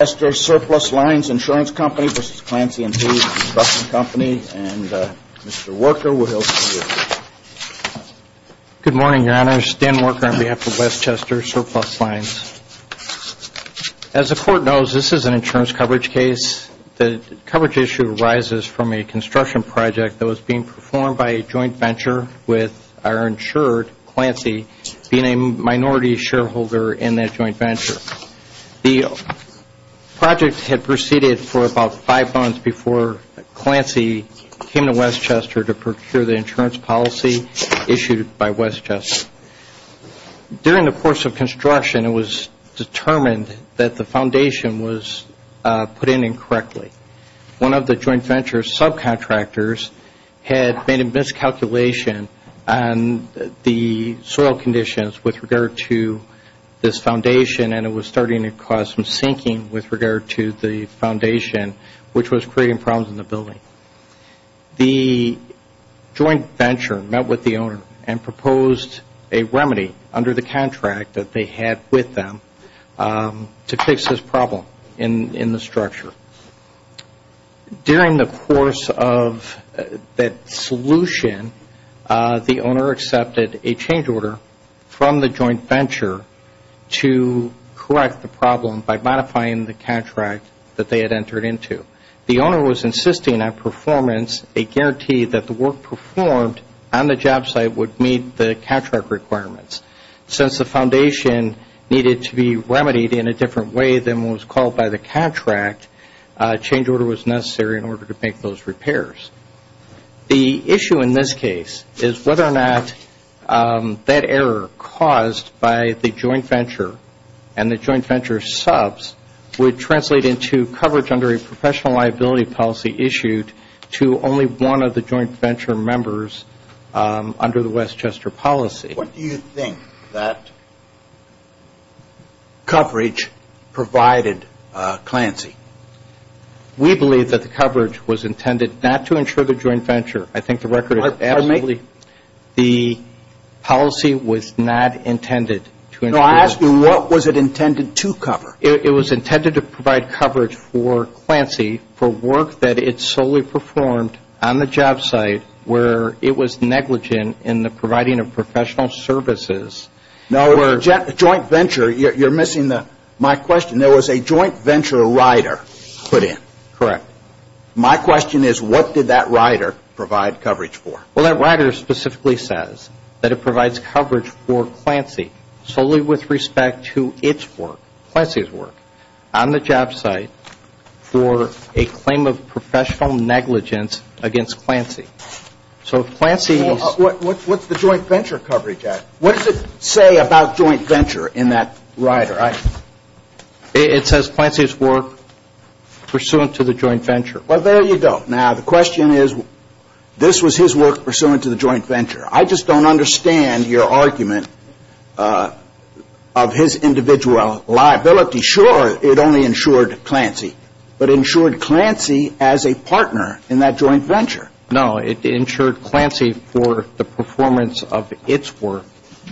, and Mr. Worker, we'll hear from you, too. Good morning, Your Honor. Stan Worker on behalf of Westchester Surplus Lines. As the Court knows, this is an insurance coverage case. The coverage issue arises from a construction project that was being performed by a joint venture with our insurer, Clancy, being a minority shareholder in that joint venture. The insurance company, Westchester Surplus had proceeded for about five months before Clancy came to Westchester to procure the insurance policy issued by Westchester. During the course of construction, it was determined that the foundation was put in incorrectly. One of the joint venture's subcontractors had made a miscalculation on the soil conditions with regard to this foundation, and it was starting to cause some sinking with regard to the foundation, which was creating problems in the building. The joint venture met with the owner and proposed a remedy under the contract that they had with them to fix this problem in the structure. During the course of that solution, the owner accepted a change order from the joint venture to correct the problem by modifying the contract that they had entered into. The owner was insisting on performance, a guarantee that the work performed on the job site would meet the contract requirements. Since the foundation needed to be remedied in a different way than was called by the contract, a change order was necessary in order to make those repairs. The issue in this case is whether or not that error caused by the joint venture and the joint venture's subs would translate into coverage under a professional liability policy issued to only one of the joint venture members under the Westchester policy. What do you think that coverage provided Clancy? We believe that the coverage was intended not to insure the joint venture. I think the record is absolutely... The policy was not intended to insure... So I ask you, what was it intended to cover? It was intended to provide coverage for Clancy for work that it solely performed on the job site where it was negligent in the providing of professional services. Now a joint venture, you're missing my question. There was a joint venture rider put in. My question is, what did that rider provide coverage for? Well, that rider specifically says that it provides coverage for Clancy solely with respect to its work, Clancy's work, on the job site for a claim of professional negligence against Clancy. So if Clancy... What's the joint venture coverage at? What does it say about joint venture in that rider? It says Clancy's work pursuant to the joint venture. Well, there you go. Now the question is, this was his work pursuant to the joint venture. I just don't understand your argument of his individual liability. Sure, it only insured Clancy, but insured Clancy as a partner in that joint venture. No, it insured Clancy for the performance of its work.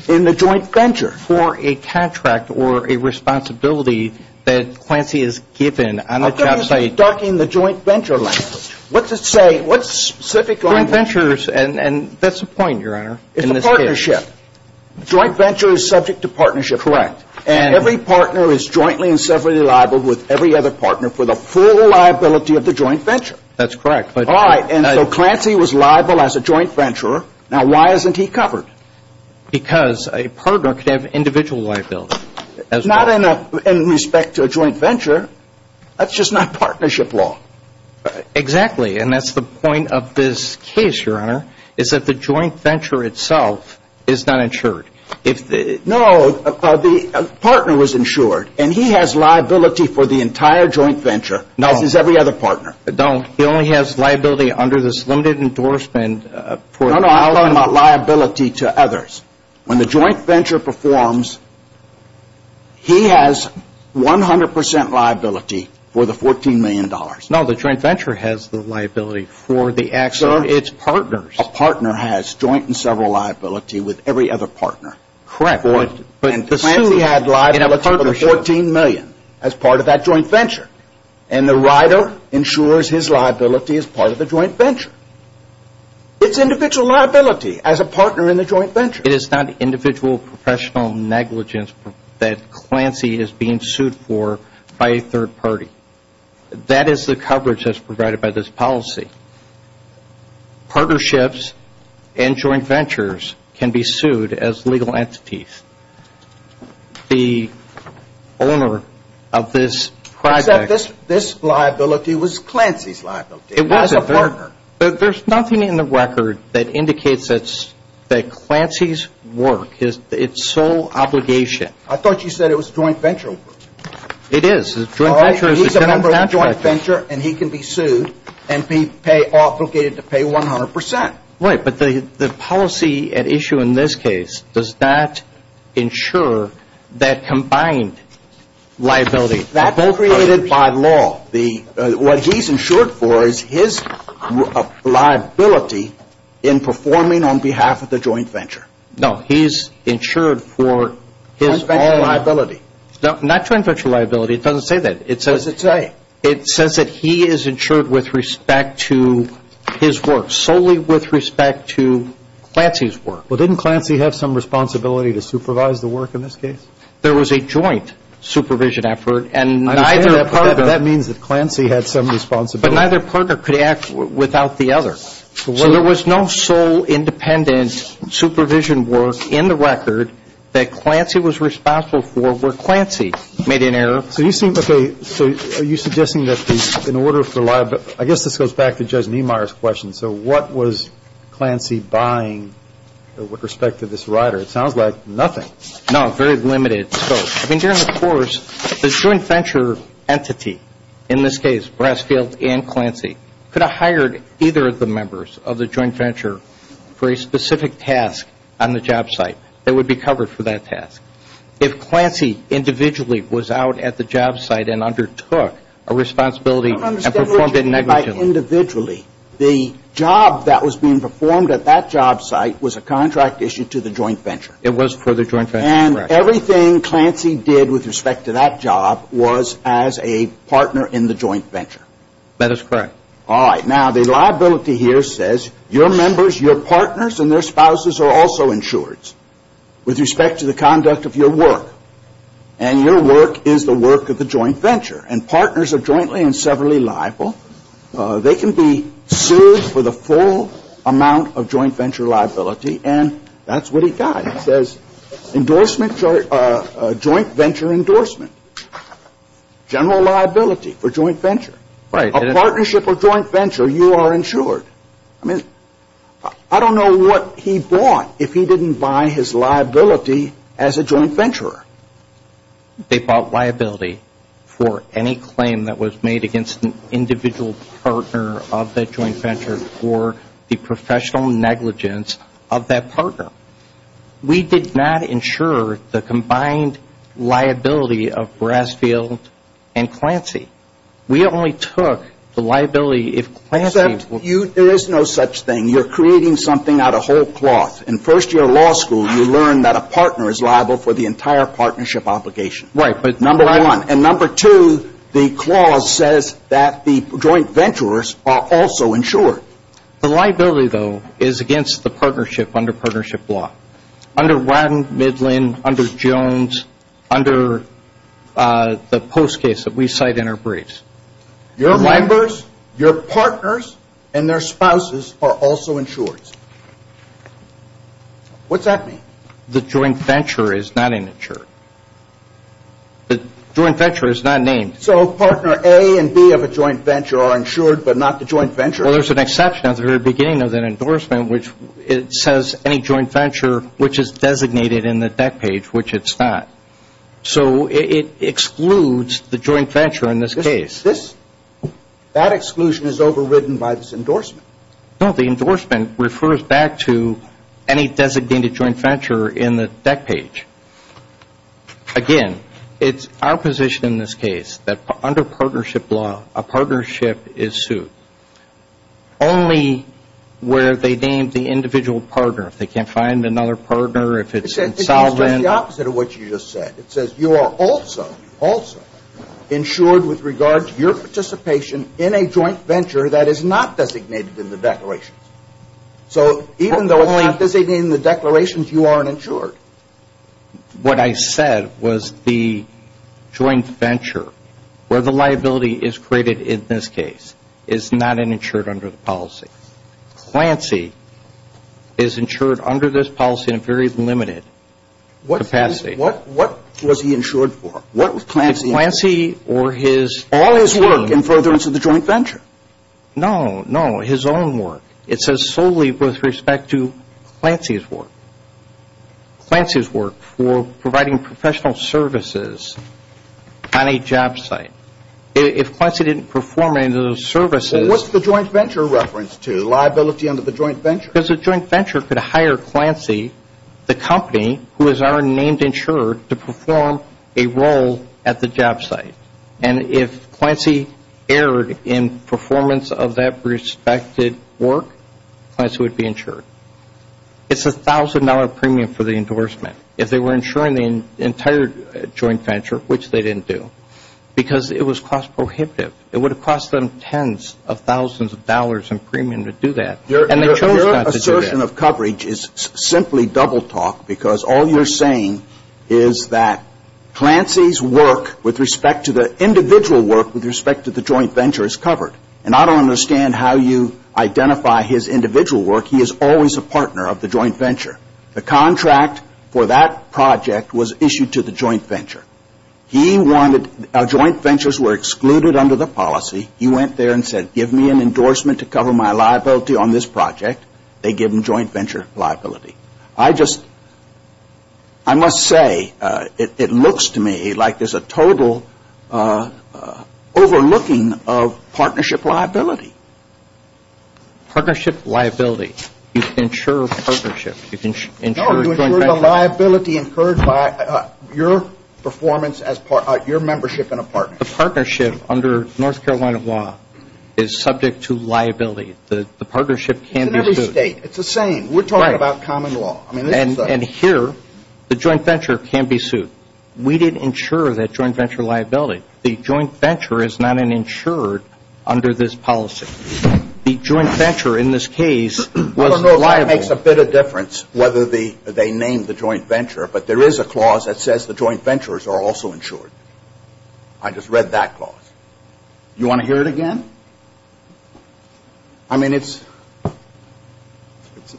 In the joint venture. For a contract or a responsibility that Clancy is given on the job site. You're darkening the joint venture language. What's it say? What specific language? Joint ventures, and that's the point, Your Honor, in this case. It's a partnership. Joint venture is subject to partnership. Correct. And every partner is jointly and separately liable with every other partner for the full liability of the joint venture. That's correct, but... All right, and so Clancy was liable as a joint venturer. Now why isn't he covered? Because a partner could have individual liability as well. It's not in respect to a joint venture. That's just not partnership law. Exactly, and that's the point of this case, Your Honor, is that the joint venture itself is not insured. No, the partner was insured, and he has liability for the entire joint venture as does every other partner. No, he only has liability under this limited endorsement for... to others. When the joint venture performs, he has 100% liability for the $14 million. No, the joint venture has the liability for the actual... Sir, it's partners. A partner has joint and several liability with every other partner. Correct, but... And Clancy had liability for the $14 million as part of that joint venture, and the rider insures his liability as part of the joint venture. It's individual liability as a partner in the joint venture. It is not individual professional negligence that Clancy is being sued for by a third party. That is the coverage that's provided by this policy. Partnerships and joint ventures can be sued as legal entities. The owner of this project... This liability was Clancy's liability as a partner. There's nothing in the record that indicates that Clancy's work is its sole obligation. I thought you said it was joint venture. It is. He's a member of a joint venture, and he can be sued and be obligated to pay 100%. Right, but the policy at issue in this case does not insure that combined liability... That's created by law. What he's insured for is his liability in performing on behalf of the joint venture. No, he's insured for his own liability. Not joint venture liability. It doesn't say that. What does it say? It says that he is insured with respect to his work, solely with respect to Clancy's work. Well, didn't Clancy have some responsibility to supervise the work in this case? There was a joint supervision effort, and neither partner... That means that Clancy had some responsibility. But neither partner could act without the other. So there was no sole independent supervision work in the record that Clancy was responsible for, where Clancy made an error. So you seem... Okay, so are you suggesting that in order for liability... I guess this goes back to Judge Niemeyer's question. So what was Clancy buying with respect to this rider? It sounds like nothing. No, very limited scope. I mean, during the course, this joint venture entity, in this case, Brasfield and Clancy, could have hired either of the members of the joint venture for a specific task on the job site that would be covered for that task. If Clancy individually was out at the job site and undertook a responsibility and performed it negligently... I don't understand what you mean by individually. The job that was being performed at that job site was a contract issued to the joint venture. It was for the joint venture, correct. And everything Clancy did with respect to that job was as a partner in the joint venture. That is correct. All right. Now, the liability here says your members, your partners, and their spouses are also insureds with respect to the conduct of your work. And your work is the work of the joint venture. And partners are jointly and severally liable. They can be sued for the full amount of joint venture liability. And that's what he got. It says endorsement or joint venture endorsement. General liability for joint venture. Right. A partnership or joint venture, you are insured. I mean, I don't know what he bought if he didn't buy his liability as a joint venturer. They bought liability for any claim that was made against an individual partner of that partner. We did not insure the combined liability of Brasfield and Clancy. We only took the liability if Clancy Except there is no such thing. You are creating something out of whole cloth. In first year law school, you learn that a partner is liable for the entire partnership obligation. Right. Number one. Number one. And number two, the clause says that the joint venturers are also insured. The liability, though, is against the partnership under partnership law. Under Ratton, Midland, under Jones, under the post case that we cite in our briefs. Your members, your partners, and their spouses are also insured. What's that mean? The joint venture is not insured. The joint venture is not named. So partner A and B of a joint venture are insured, but not the joint venture? Well, there's an exception at the very beginning of that endorsement, which it says any joint venture which is designated in the deck page, which it's not. So it excludes the joint venture in this case. This, that exclusion is overridden by this endorsement. No, the endorsement refers back to any designated joint venture in the deck page. Again, it's our position in this case that under partnership law, a partnership is sued. Only where they name the individual partner. If they can't find another partner, if it's insolvent. It means doing the opposite of what you just said. It says you are also, also insured with regard to your participation in a joint venture that is not designated in the declarations. So even though it's not designated in the declarations, you aren't insured. What I said was the joint venture, where the liability is created in this case, is not insured under the policy. Clancy is insured under this policy in a very limited capacity. What was he insured for? What was Clancy insured for? If Clancy or his All his work in furtherance of the joint venture. No, no, his own work. It says solely with respect to Clancy's work. Clancy's work for providing professional services on a job site. If Clancy didn't perform any of those services Well, what's the joint venture referenced to? Liability under the joint venture? Because the joint venture could hire Clancy, the company who is our named insurer, to enroll at the job site. And if Clancy erred in performance of that respected work, Clancy would be insured. It's a $1,000 premium for the endorsement. If they were insuring the entire joint venture, which they didn't do, because it was cost prohibitive, it would have cost them tens of thousands of dollars in premium to do that, and they chose not to do that. Which is simply double talk, because all you're saying is that Clancy's work with respect to the individual work with respect to the joint venture is covered. And I don't understand how you identify his individual work. He is always a partner of the joint venture. The contract for that project was issued to the joint venture. He wanted our joint ventures were excluded under the policy. He went there and said, give me an endorsement to cover my liability on this project. They give him joint venture liability. I just, I must say, it looks to me like there's a total overlooking of partnership liability. Partnership liability. You can insure a partnership. You can insure a joint venture. No, you insure the liability incurred by your performance as part, your membership in a partnership. The partnership under North Carolina law is subject to liability. The partnership can be sued. It's in every state. It's the same. We're talking about common law. Right. And here, the joint venture can be sued. We didn't insure that joint venture liability. The joint venture is not an insurer under this policy. The joint venture in this case was liable. I don't know if that makes a bit of difference whether they name the joint venture, but there I read that clause. You want to hear it again? I mean, it's, it's,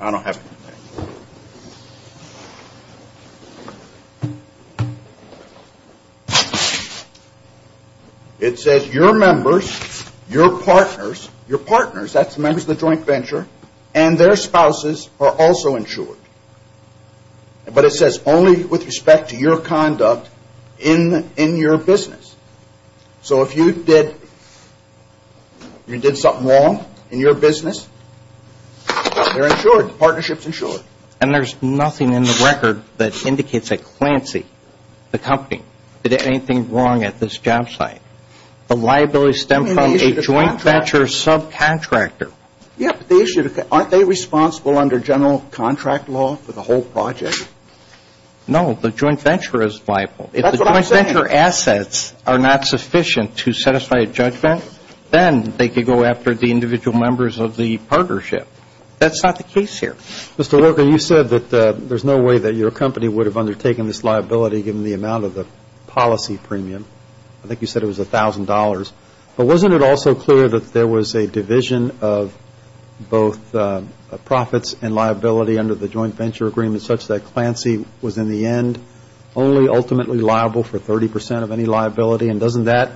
I don't have to. It says your members, your partners, your partners, that's the members of the joint venture, and their spouses are also insured. But it says only with respect to your conduct in, in your business. So if you did, you did something wrong in your business, they're insured. The partnership's insured. And there's nothing in the record that indicates that Clancy, the company, did anything wrong at this job site. The liability stemmed from a joint venture subcontractor. Yeah, but they issued, aren't they responsible under general contract law for the whole project? No, the joint venture is liable. That's what I'm saying. If the joint venture assets are not sufficient to satisfy a judgment, then they could go after the individual members of the partnership. That's not the case here. Mr. Walker, you said that there's no way that your company would have undertaken this liability given the amount of the policy premium. I think you said it was $1,000. But wasn't it also clear that there was a division of both profits and liability under the joint venture agreement such that Clancy was, in the end, only ultimately liable for 30 percent of any liability? And doesn't that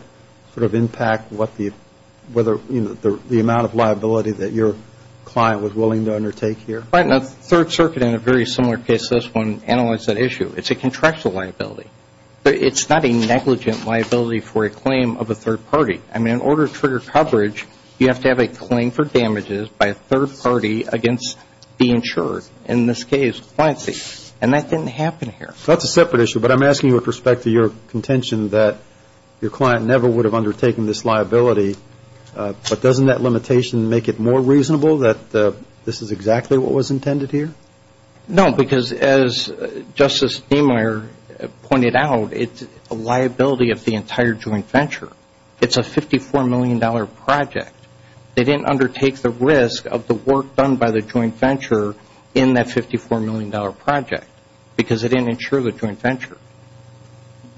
sort of impact what the, whether, you know, the amount of liability that your client was willing to undertake here? Right. And the Third Circuit, in a very similar case to this one, analyzed that issue. It's a contractual liability. It's not a negligent liability for a claim of a third party. I mean, in order to trigger coverage, you have to have a claim for damages by a third party against the insurer. In this case, Clancy. And that didn't happen here. So that's a separate issue. But I'm asking you with respect to your contention that your client never would have undertaken this liability. But doesn't that limitation make it more reasonable that this is exactly what was intended here? No. Because as Justice Demeier pointed out, it's a liability of the entire joint venture. It's a $54 million project. They didn't undertake the risk of the work done by the joint venture in that $54 million project because they didn't insure the joint venture.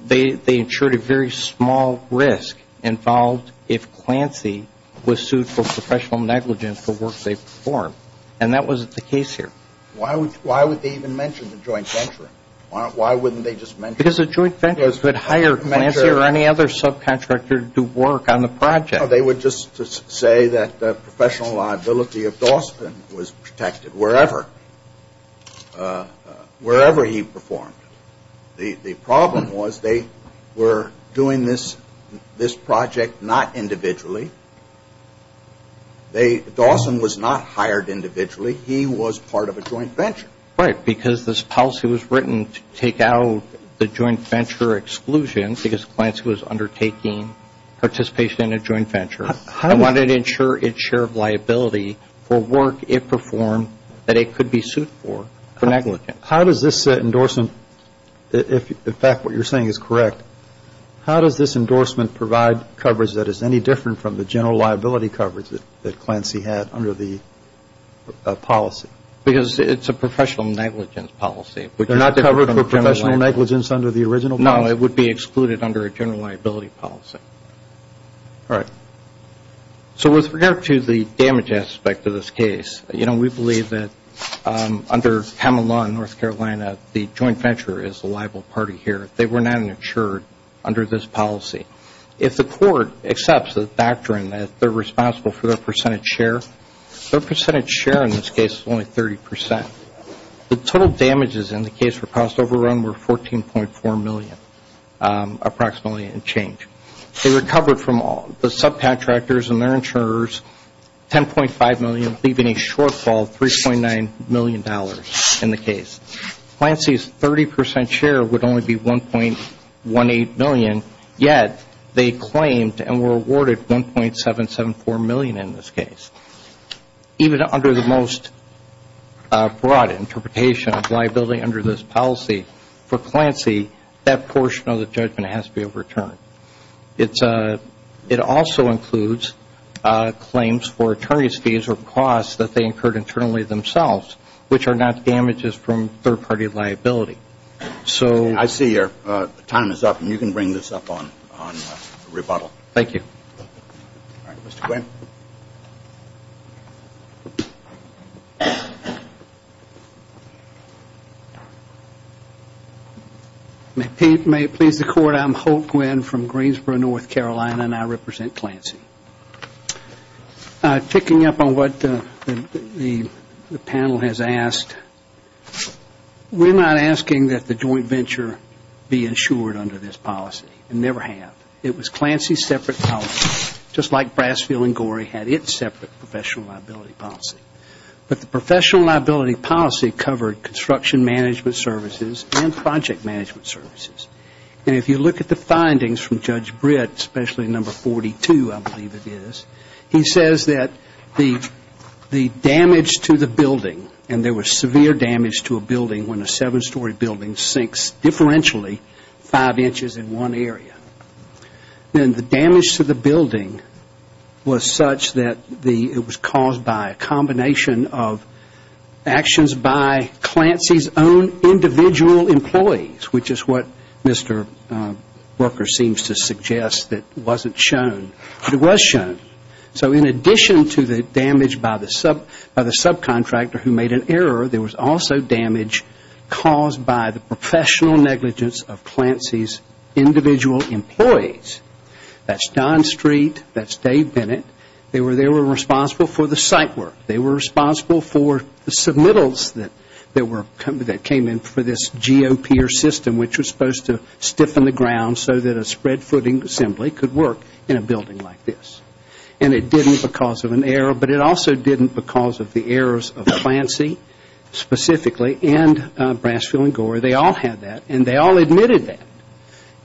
They insured a very small risk involved if Clancy was sued for professional negligence for work they performed. And that wasn't the case here. Why would they even mention the joint venture? Why wouldn't they just mention it? Because the joint venture could hire Clancy or any other subcontractor to do work on the project. They would just say that the professional liability of Dawson was protected wherever he performed. The problem was they were doing this project not individually. Dawson was not hired individually. He was part of a joint venture. Right. Because this policy was written to take out the joint venture exclusion because Clancy was undertaking participation in a joint venture and wanted to insure its share of liability for work it performed that it could be sued for for negligence. How does this endorsement, if in fact what you're saying is correct, how does this endorsement provide coverage that is any different from the general liability coverage that Clancy had under the policy? Because it's a professional negligence policy. They're not covered for professional negligence under the original policy? No, it would be excluded under a general liability policy. All right. So with regard to the damage aspect of this case, you know, we believe that under Hamel Law in North Carolina the joint venture is the liable party here. They were not insured under this policy. If the court accepts the doctrine that they're responsible for their 1% share in this case is only 30%. The total damages in the case for cost overrun were $14.4 million approximately in change. They recovered from all the subcontractors and their insurers $10.5 million leaving a shortfall of $3.9 million in the case. Clancy's 30% share would only be $1.18 million, yet they claimed and were awarded $1.774 million in this case. Even under the most broad interpretation of liability under this policy, for Clancy that portion of the judgment has to be overturned. It also includes claims for attorney's fees or costs that they incurred internally themselves, which are not damages from third party liability. So I see your time is up and you can bring this up on rebuttal. Thank you. All right, Mr. Gwynne. May it please the court, I'm Holt Gwynne from Greensboro, North Carolina and I represent Clancy. Picking up on what the panel has asked, we're not asking that the joint venture be insured under this policy and never have. It was Clancy's separate policy, just like Brasfield and Gorey had its separate professional liability policy. But the professional liability policy covered construction management services and project management services. And if you look at the findings from Judge Britt, especially number 42 I believe it is, he says that the damage to the building, and there was severe damage to a building when a seven story building sinks differentially five inches in one area. Then the damage to the building was such that it was caused by a combination of actions by Clancy's own individual employees, which is what Mr. Brooker seems to suggest that wasn't shown. But it was shown. So in addition to the damage by the subcontractor who made an error, there was also damage caused by the professional negligence of Clancy's individual employees. That's Don Street, that's Dave Bennett. They were responsible for the site work. They were responsible for the submittals that came in for this GOP or system which was supposed to stiffen the ground so that a spread footing assembly could work in a building like this. And it didn't because of an error, but it also didn't because of the errors of Clancy specifically and Brasfield and Gore. They all had that and they all admitted that.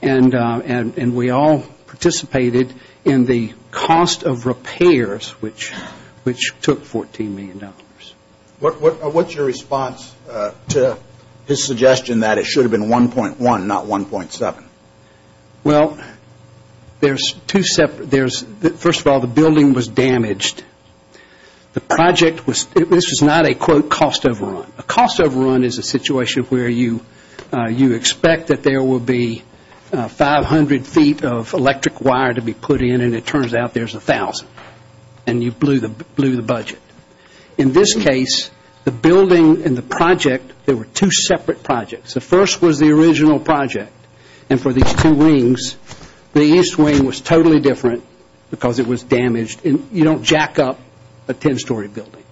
And we all participated in the cost of repairs which took $14 million. What's your response to his suggestion that it should have been 1.1, not 1.7? There's two separate, first of all the building was damaged. The project was, this was not a cost overrun. A cost overrun is a situation where you expect that there will be 500 feet of electric wire to be put in and it turns out there's 1,000. And you blew the budget. In this case, the building and the project, they were two separate projects. The first was the original project and for these two wings, the east wing was totally different because it was damaged and you don't jack up a 10 story building.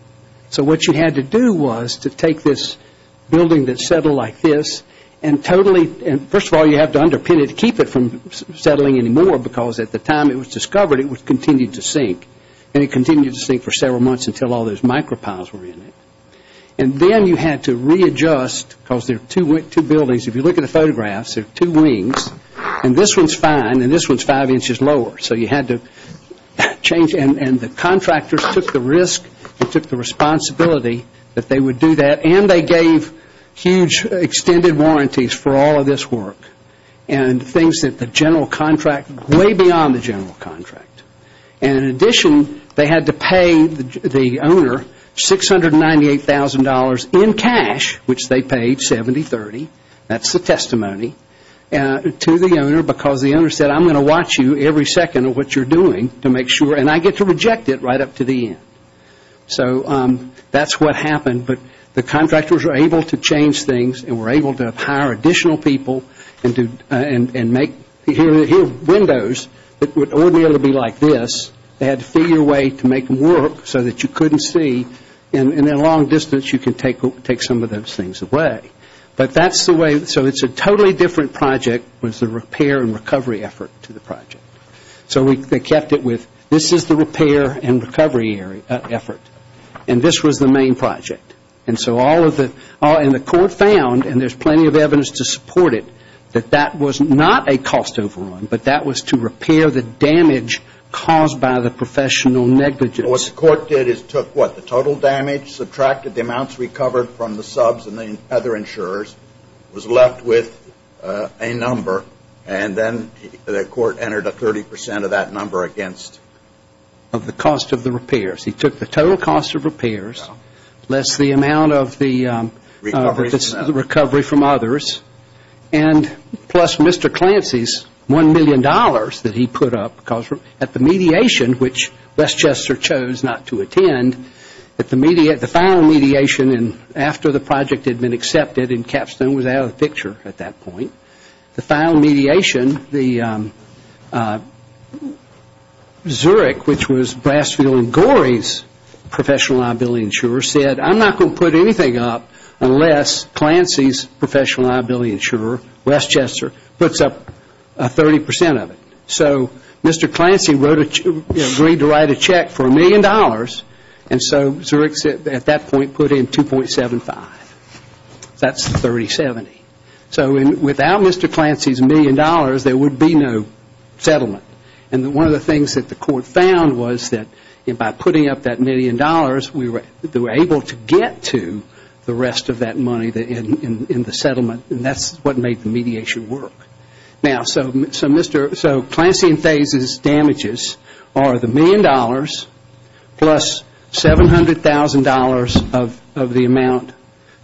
So what you had to do was to take this building that settled like this and totally, first of all you have to underpin it to keep it from settling anymore because at the time it was discovered it continued to sink. And it continued to sink for several months until all those micropiles were in it. And then you had to readjust because there are two buildings. If you look at the photographs, there are two wings and this one is fine and this one is five inches lower. So you had to change and the contractors took the risk and took the responsibility that they would do that and they gave huge extended warranties for all of this work and things that the general contract, way beyond the general contract. And in addition, they had to pay the owner $698,000 in cash, which they paid 70-30. That's the testimony to the owner because the owner said, I'm going to watch you every second of what you're doing to make sure and I get to reject it right up to the end. So that's what happened. But the contractors were able to change things and were able to hire additional people and make windows that wouldn't be able to be like this. They had to figure a way to make them work so that you couldn't see and in the long distance you could take some of those things away. But that's the way, so it's a totally different project was the repair and recovery effort to the project. So they kept it with this is the repair and recovery effort and this was the main project. And so all of the, and the court found, and there's plenty of evidence to support it, that that was not a cost overrun, but that was to repair the damage caused by the professional negligence. What the court did is took what, the total damage, subtracted the amounts recovered from the subs and the other insurers, was left with a number and then the court entered a 30 percent of that number against? Of the cost of the repairs. He took the total cost of repairs, less the amount of the recovery from others, and plus Mr. Clancy's $1 million that he put up at the mediation, which Westchester chose not to attend, at the final mediation and after the project had been accepted and Capstone was out of the picture at that point, the final mediation, the Zurich, which was Brassfield and Gorey's professional liability insurer, said I'm not going to put anything up unless Clancy's professional liability insurer, Westchester, puts up a 30 percent of it. So Mr. Clancy agreed to write a check for $1 million, and so Zurich at that point put in $2.75. That's $30.70. So without Mr. Clancy's $1 million, there would be no settlement. And one of the things that the court found was that by putting up that $1 million, they were able to get to the rest of that money in the settlement, and that's what made the mediation work. Now, so Mr. Clancy and Faye's damages are the $1 million plus $700,000 of the amount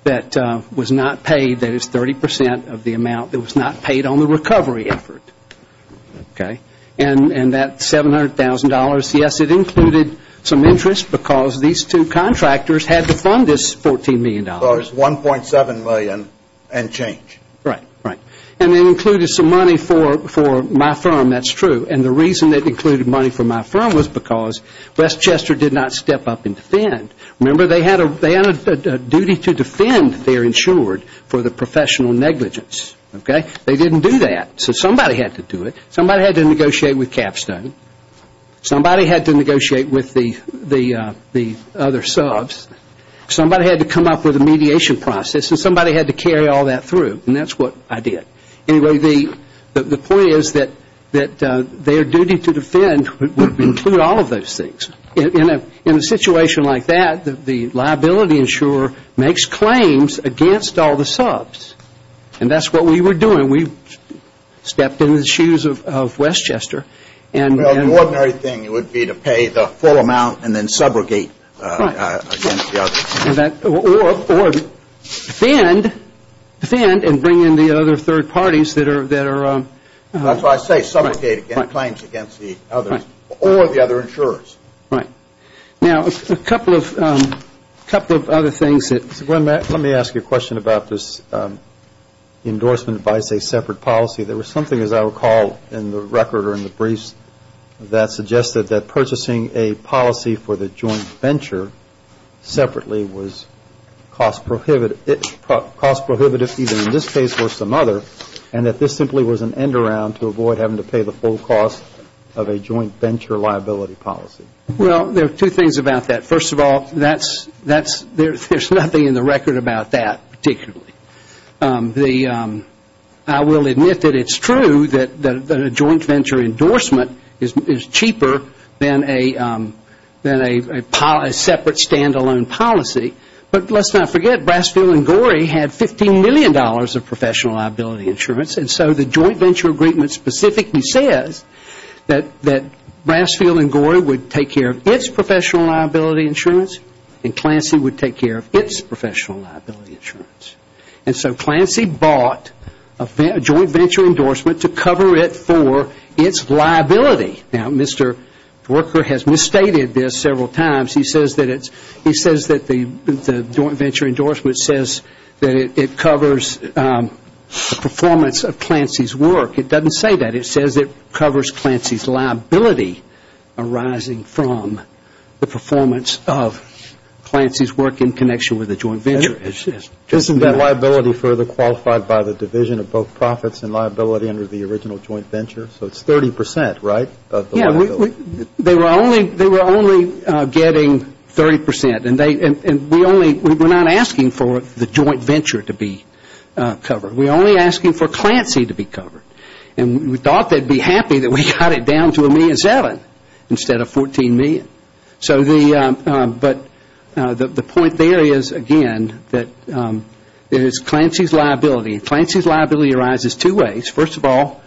that was not paid, that is 30 percent of the amount that was not paid on the recovery effort. And that $700,000, yes, it included some interest because these two contractors had to fund this $14 million. Well, it was $1.7 million and change. Right, right. And it included some money for my firm, that's true. And the reason it included money for my firm was because Westchester did not step up and defend. Remember, they had a duty to defend their insured for the professional negligence, okay? They didn't do that. So somebody had to do it. Somebody had to negotiate with Capstone. Somebody had to negotiate with the other subs. Somebody had to come up with a mediation process, and that's what I did. Anyway, the point is that their duty to defend would include all of those things. In a situation like that, the liability insurer makes claims against all the subs, and that's what we were doing. We stepped in the shoes of Westchester and Well, the ordinary thing would be to pay the full amount and then subrogate against the other. Or defend and bring in the other third parties that are That's what I say, subrogate and make claims against the others or the other insurers. Right. Now, a couple of other things that Let me ask you a question about this endorsement by, say, separate policy. There was something as I recall in the record or in the briefs that suggested that purchasing a policy for the joint venture separately was cost prohibitive either in this case or some other, and that this simply was an end around to avoid having to pay the full cost of a joint venture liability policy. Well, there are two things about that. First of all, there's nothing in the record about that particularly. I will admit that it's true that a joint venture endorsement is cheaper than a separate stand-alone policy. But let's not forget, Brasfield and Gorey had $15 million of professional liability insurance, and so the joint venture agreement specifically says that Brasfield and Gorey would take care of its professional liability insurance and Clancy would take care of its professional liability insurance. And so Clancy bought a joint venture endorsement to cover it for its liability. Now, Mr. Brasfield has misstated this several times. He says that the joint venture endorsement says that it covers the performance of Clancy's work. It doesn't say that. It says it covers Clancy's liability arising from the performance of Clancy's work in connection with a joint venture. Isn't that liability further qualified by the division of both profits and liability under the original joint venture? So it's 30 percent, right? Yes. They were only getting 30 percent. And we're not asking for the joint venture to be covered. We're only asking for Clancy to be covered. And we thought they'd be happy that we got it down to a million seven instead of 14 million. But the point there is, again, that it is Clancy's liability. And Clancy's liability arises two ways. First of all,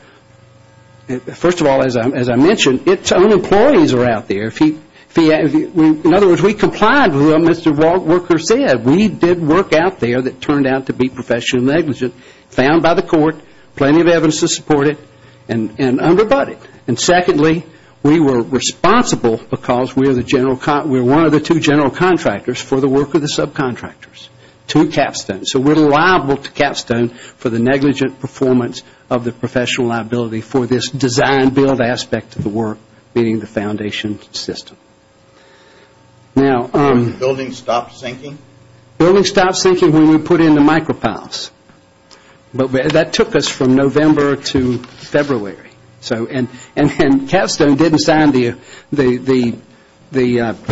as I mentioned, its own employees are out there. In other words, we complied with what Mr. Walker said. We did work out there that turned out to be professionally negligent, found by the court, plenty of evidence to support it, and under butted. And secondly, we were responsible because we are one of the two general contractors for the work of the subcontractors to Capstone. So we're liable to Capstone for the negligent performance of the professional liability for this design-build aspect of the work, meaning the foundation system. When did the building stop sinking? The building stopped sinking when we put in the micropiles. But that took us from November to February. And Capstone didn't sign the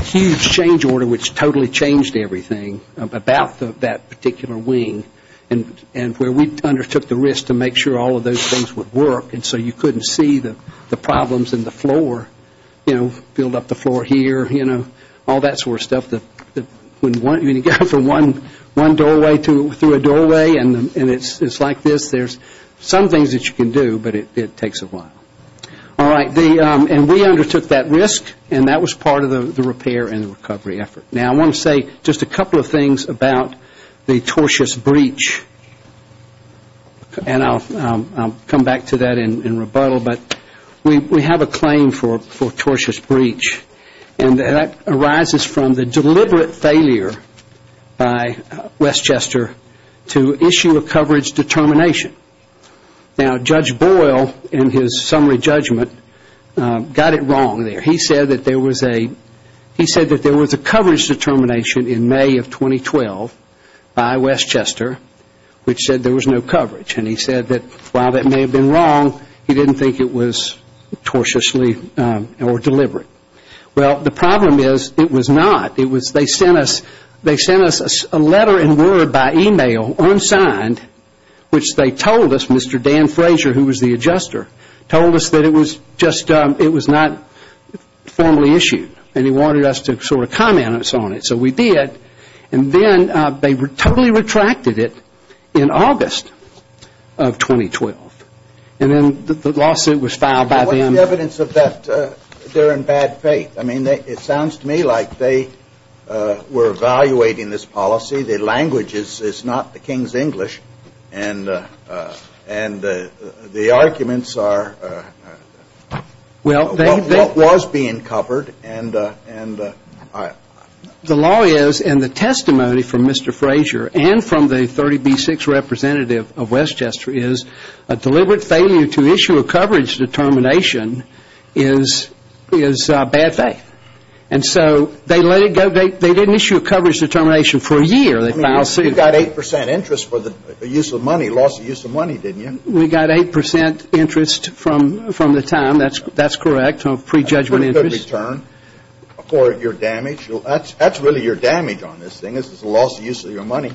huge change order, which totally changed the everything about that particular wing, and where we undertook the risk to make sure all of those things would work. And so you couldn't see the problems in the floor, you know, build up the floor here, you know, all that sort of stuff that when you go from one doorway through a doorway and it's like this, there's some things that you can do, but it takes a while. All right. And we undertook that risk, and that was part of the repair and recovery effort. Now, I want to say just a couple of things about the tortious breach. And I'll come back to that in rebuttal, but we have a claim for tortious breach, and that arises from the deliberate failure by Westchester to issue a coverage determination. Now, Judge Boyle in his summary judgment got it wrong there. He said that there was a coverage determination in May of 2012 by Westchester, which said there was no coverage. And he said that while that may have been wrong, he didn't think it was tortiously or deliberate. Well, the problem is it was not. They sent us a letter and word by e-mail, unsigned, which they told us, Mr. Dan Frazier, who was the adjuster, told us that it was just, it was not formally issued. And he wanted us to sort of comment on it. So we did. And then they totally retracted it in August of 2012. And then the lawsuit was filed by them. What's the evidence of that they're in bad faith? I mean, it sounds to me like they were evaluating this policy. The language is not the king's English. And the arguments are what was being covered. The law is, and the testimony from Mr. Frazier and from the 30B6 representative of Westchester is a deliberate failure to issue a coverage determination is bad faith. And so they let you issue a coverage determination for a year. I mean, you got 8% interest for the use of money, loss of use of money, didn't you? We got 8% interest from the time. That's correct, pre-judgment interest. That's a good return for your damage. That's really your damage on this thing is the loss of use of your money.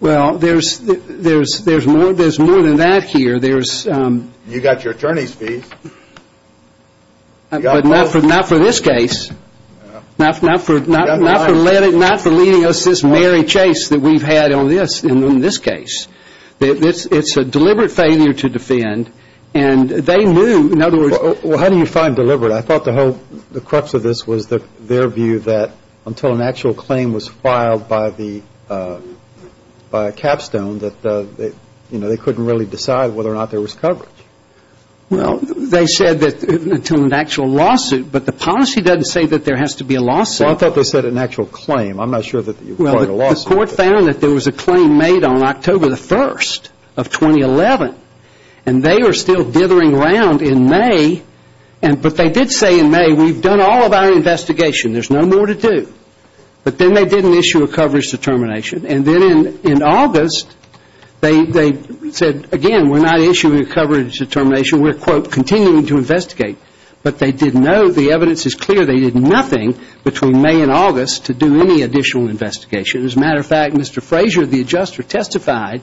Well, there's more than that here. You got your attorney's fees. But not for this case. Not for leading us this merry chase that we've had on this case. It's a deliberate failure to defend. And they knew, in other words Well, how do you find deliberate? I thought the whole crux of this was their view that until an actual claim was filed by a capstone, that they couldn't really decide whether or not there was coverage. Well, they said that until an actual lawsuit. But the policy doesn't say that there has to be a lawsuit. Well, I thought they said an actual claim. I'm not sure that you applied a lawsuit. Well, the court found that there was a claim made on October the 1st of 2011. And they are still dithering around in May. But they did say in May, we've done all of our investigation, there's no more to do. But then they didn't issue a coverage determination. And then in May, they issued a coverage determination. We're, quote, continuing to investigate. But they didn't know. The evidence is clear. They did nothing between May and August to do any additional investigation. As a matter of fact, Mr. Frazier, the adjuster, testified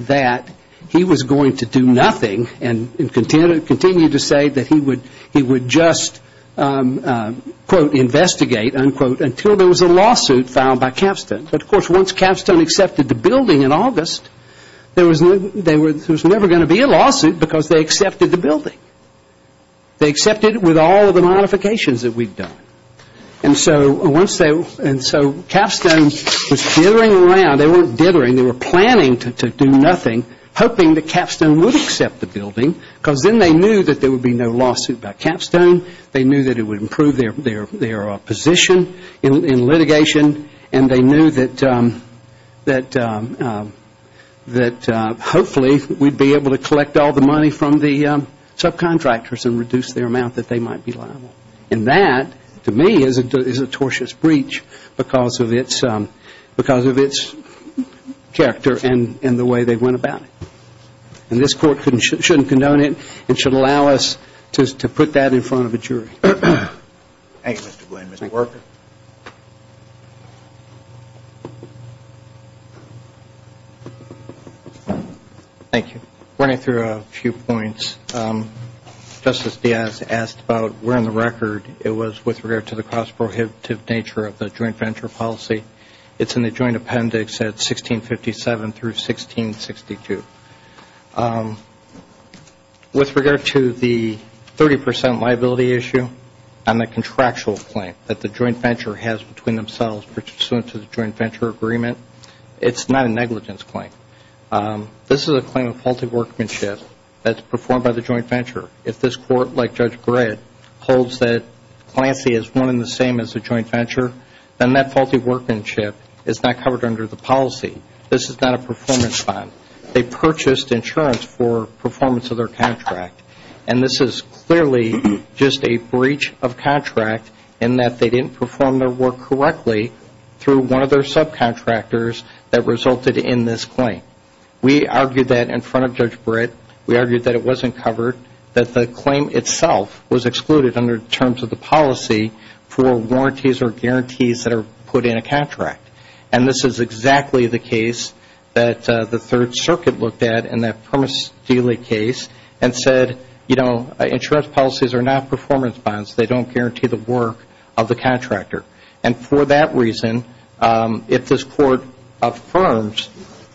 that he was going to do nothing and continued to say that he would just, quote, investigate, unquote, until there was a lawsuit filed by capstone. But, of course, once capstone accepted the building in August, there was never going to be a lawsuit because they accepted the building. They accepted it with all of the modifications that we've done. And so capstone was dithering around. They weren't dithering. They were planning to do nothing, hoping that capstone would accept the building because then they knew that there would be no lawsuit by capstone. They knew that it would improve their position in litigation. And they knew that hopefully we'd be able to collect all the money from the subcontractors and reduce their amount that they might be liable. And that, to me, is a tortious breach because of its character and the way they went about it. And this Court shouldn't condone it. It should allow us to put that in front of a jury. Thank you, Mr. Blaine. Mr. Worker. Thank you. Running through a few points. Justice Diaz asked about where in the record it was with regard to the cost prohibitive nature of the joint venture policy. It's in the joint appendix at 1657 through 1662. With regard to the 30 percent liability issue and the contractual claim that the joint venture has between themselves pursuant to the joint venture agreement, it's not a negligence claim. This is a claim of faulty workmanship that's performed by the joint venture. If this Court, like Judge Gray, holds that cliency is one and the same as the joint venture, then that faulty workmanship is not covered under the policy. This is not a performance bond. They purchased insurance for performance of their contract. And this is clearly just a breach of contract in that they didn't perform their work correctly through one of their subcontractors that resulted in this claim. We argued that in front of Judge Britt, we argued that it wasn't covered, that the claim itself was excluded under terms of the policy for warranties or guarantees that are put in a contract. And this is exactly the case that the Third Circuit looked at in that Permit Stealing case and said, you know, insurance policies are not performance bonds. They don't guarantee the work of the contractor. And for that reason, if this Court affirms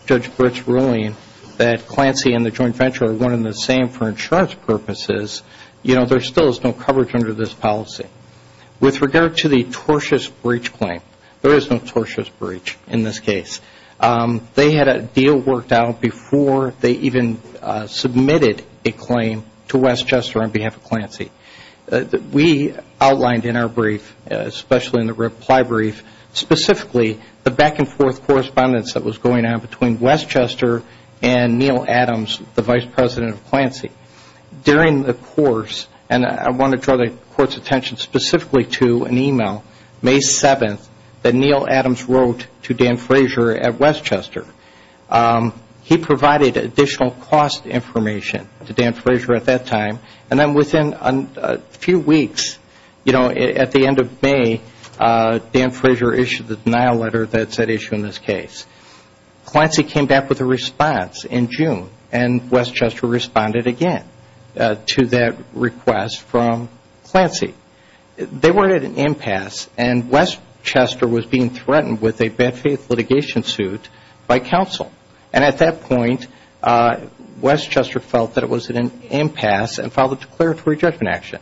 Judge Britt's ruling that clancy and the joint venture are one and the same for insurance purposes, you know, there still is no coverage under this policy. With regard to the tortious breach claim, there is no tortious breach in this case. They had a deal worked out before they even submitted a claim to Westchester on behalf of Clancy. We outlined in our brief, especially in the reply brief, specifically the back and forth correspondence that was going on between Westchester and Neal Adams, the Vice President of Clancy. During the course, and I want to draw the Court's attention specifically to an email, May 7th, that Neal Adams wrote to Dan Frazier at Westchester. He provided additional cost information to Dan Frazier at that time. And then within a few weeks, you know, at the end of May, Dan Frazier issued the denial letter that's at issue in this case. Clancy came back with a response in June and Westchester responded again to that letter. They were at an impasse and Westchester was being threatened with a bad faith litigation suit by counsel. And at that point, Westchester felt that it was an impasse and filed a declaratory judgment action.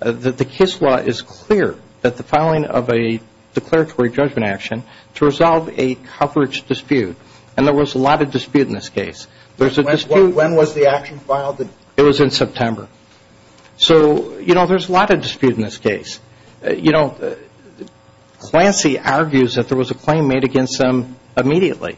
The KISS law is clear that the filing of a declaratory judgment action to resolve a coverage dispute, and there was a lot of dispute in this case. When was the action filed? It was in September. So, you know, there's a lot of dispute in this case. You know, Clancy argues that there was a claim made against them immediately.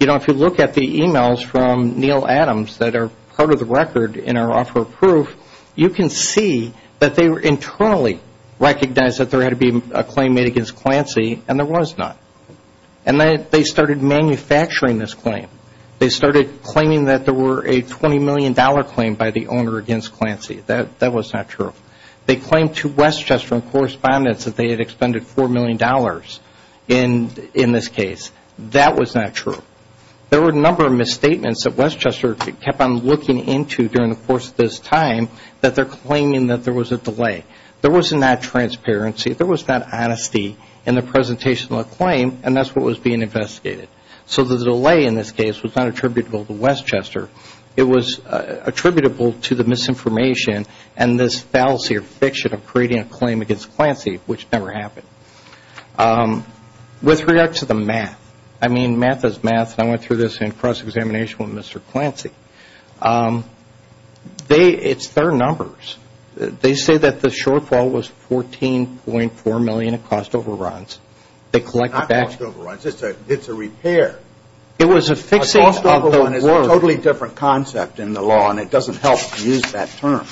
You know, if you look at the emails from Neal Adams that are part of the record in our offer of proof, you can see that they were internally recognized that there had to be a claim made against Clancy and there was not. And they started manufacturing this claim. They started claiming that there were a $20 million claim by the owner against Clancy. That was not true. They claimed to Westchester in correspondence that they had expended $4 million in this case. That was not true. There were a number of misstatements that Westchester kept on looking into during the course of this time that they're claiming that there was a delay. There was not transparency. There was not honesty in the presentation of the claim and that's what was being investigated. So the delay in this case was not attributable to Westchester. It was attributable to the misinformation and this fallacy or fiction of creating a claim against Clancy, which never happened. With regard to the math, I mean, math is math and I went through this in cross-examination with Mr. Clancy. It's their numbers. They say that the shortfall was $14.4 million of cost overruns. It's not cost overruns. It's a repair. A cost overrun is a totally different concept in the law and it doesn't help to use that term.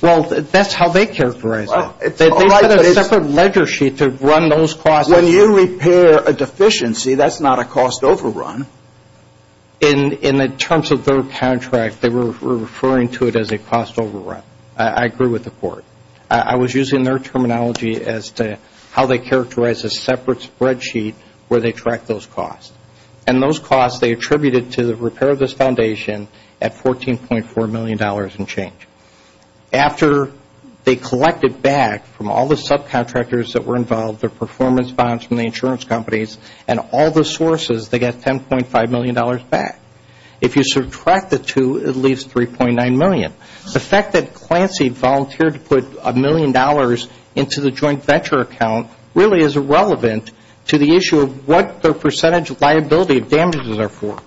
Well, that's how they characterize it. They put a separate ledger sheet to run those costs. When you repair a deficiency, that's not a cost overrun. In the terms of their contract, they were referring to it as a cost overrun. I agree with the court. I was using their terminology as to how they characterize a separate spread sheet where they track those costs. And those costs, they attributed to the repair of this foundation at $14.4 million and change. After they collected back from all the subcontractors that were involved, their performance bonds from the insurance companies and all the sources, they got $10.5 million back. If you subtract the two, it leaves $3.9 million. The fact that Clancy volunteered to put a million dollars into the joint venture account really is irrelevant to the issue of what their percentage liability of damages are for.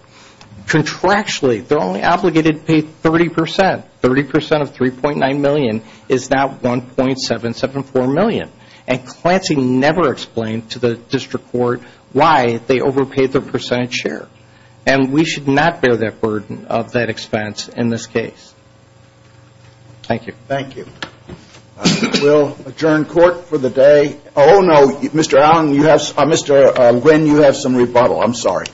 Contractually, they're only obligated to pay 30%. 30% of $3.9 million is now $1.774 million. And Clancy never explained to the district court why they overpaid their percentage share. And we should not bear that burden of that expense in this case. Thank you. Thank you. We'll adjourn court for the day. Oh, no, Mr. Allen, you have, Mr. Wynn, you have some rebuttal. I'm sorry.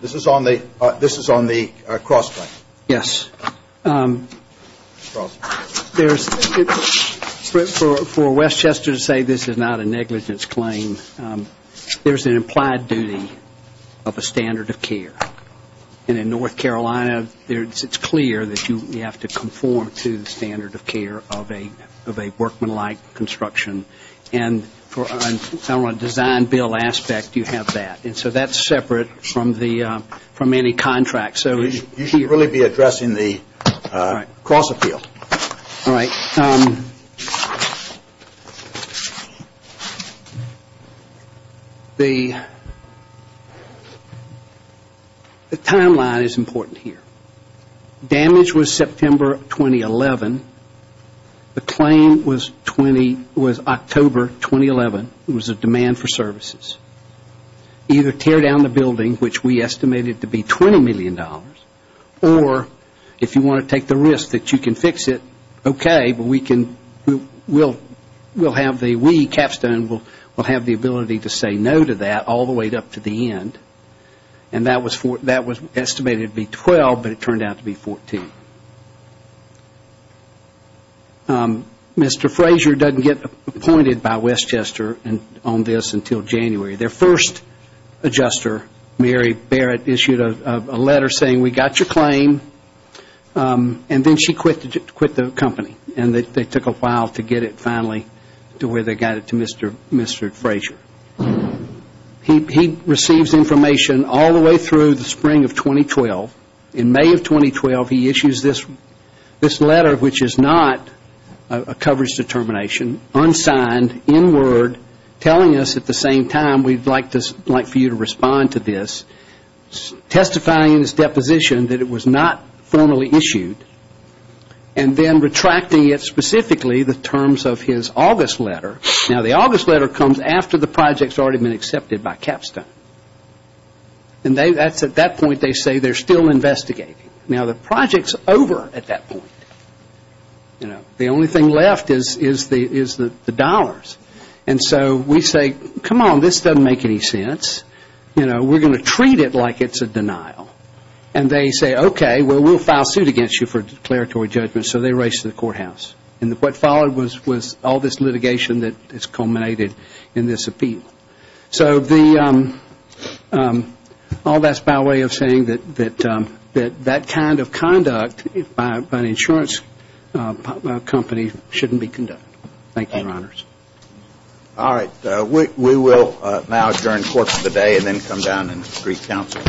This is on the cross-claim. Yes. For Westchester to say this is not a negligence claim, there's an implied duty of a standard of care. It's clear that you have to conform to the standard of care of a workmanlike construction. And for a design bill aspect, you have that. And so that's separate from any contract. You should really be addressing the cross-appeal. All right. The timeline is important here. Damage was September 2011. The claim was October 2011. It was a demand for services. Either tear down the building, which we estimated to be $20 million, or if you want to take the risk that you can fix it, okay, but we'll have the, we, Capstone, will have the ability to say no to that all the way up to the end. And that was estimated to be $12 million, but it turned out to be $14 million. Mr. Frazier doesn't get appointed by Westchester on this until January. Their first adjuster, Mary Barrett, issued a letter saying, we got your claim. And then she quit the company, and they took a while to get it finally to where they got it to Mr. Frazier. He receives information all the way through the spring of 2012. In May of 2012, he issues this letter, which is not a coverage determination, unsigned, in word, telling us at the same time, we'd like for you to respond to this, testifying in his deposition that it was not a coverage determination. It was not formally issued, and then retracting it specifically, the terms of his August letter. Now, the August letter comes after the project's already been accepted by Capstone. And that's at that point they say they're still investigating. Now, the project's over at that point. The only thing left is the dollars. And so we say, come on, this doesn't make any sense. You know, we're going to treat it like it's a denial. And they say, okay, well, we'll file suit against you for declaratory judgment. So they race to the courthouse. And what followed was all this litigation that has culminated in this appeal. So all that's by way of saying that that kind of conduct by an insurance company shouldn't be conducted. Thank you, Your Honors. All right. We will now adjourn court for the day and then come down and greet counsel. Thank you.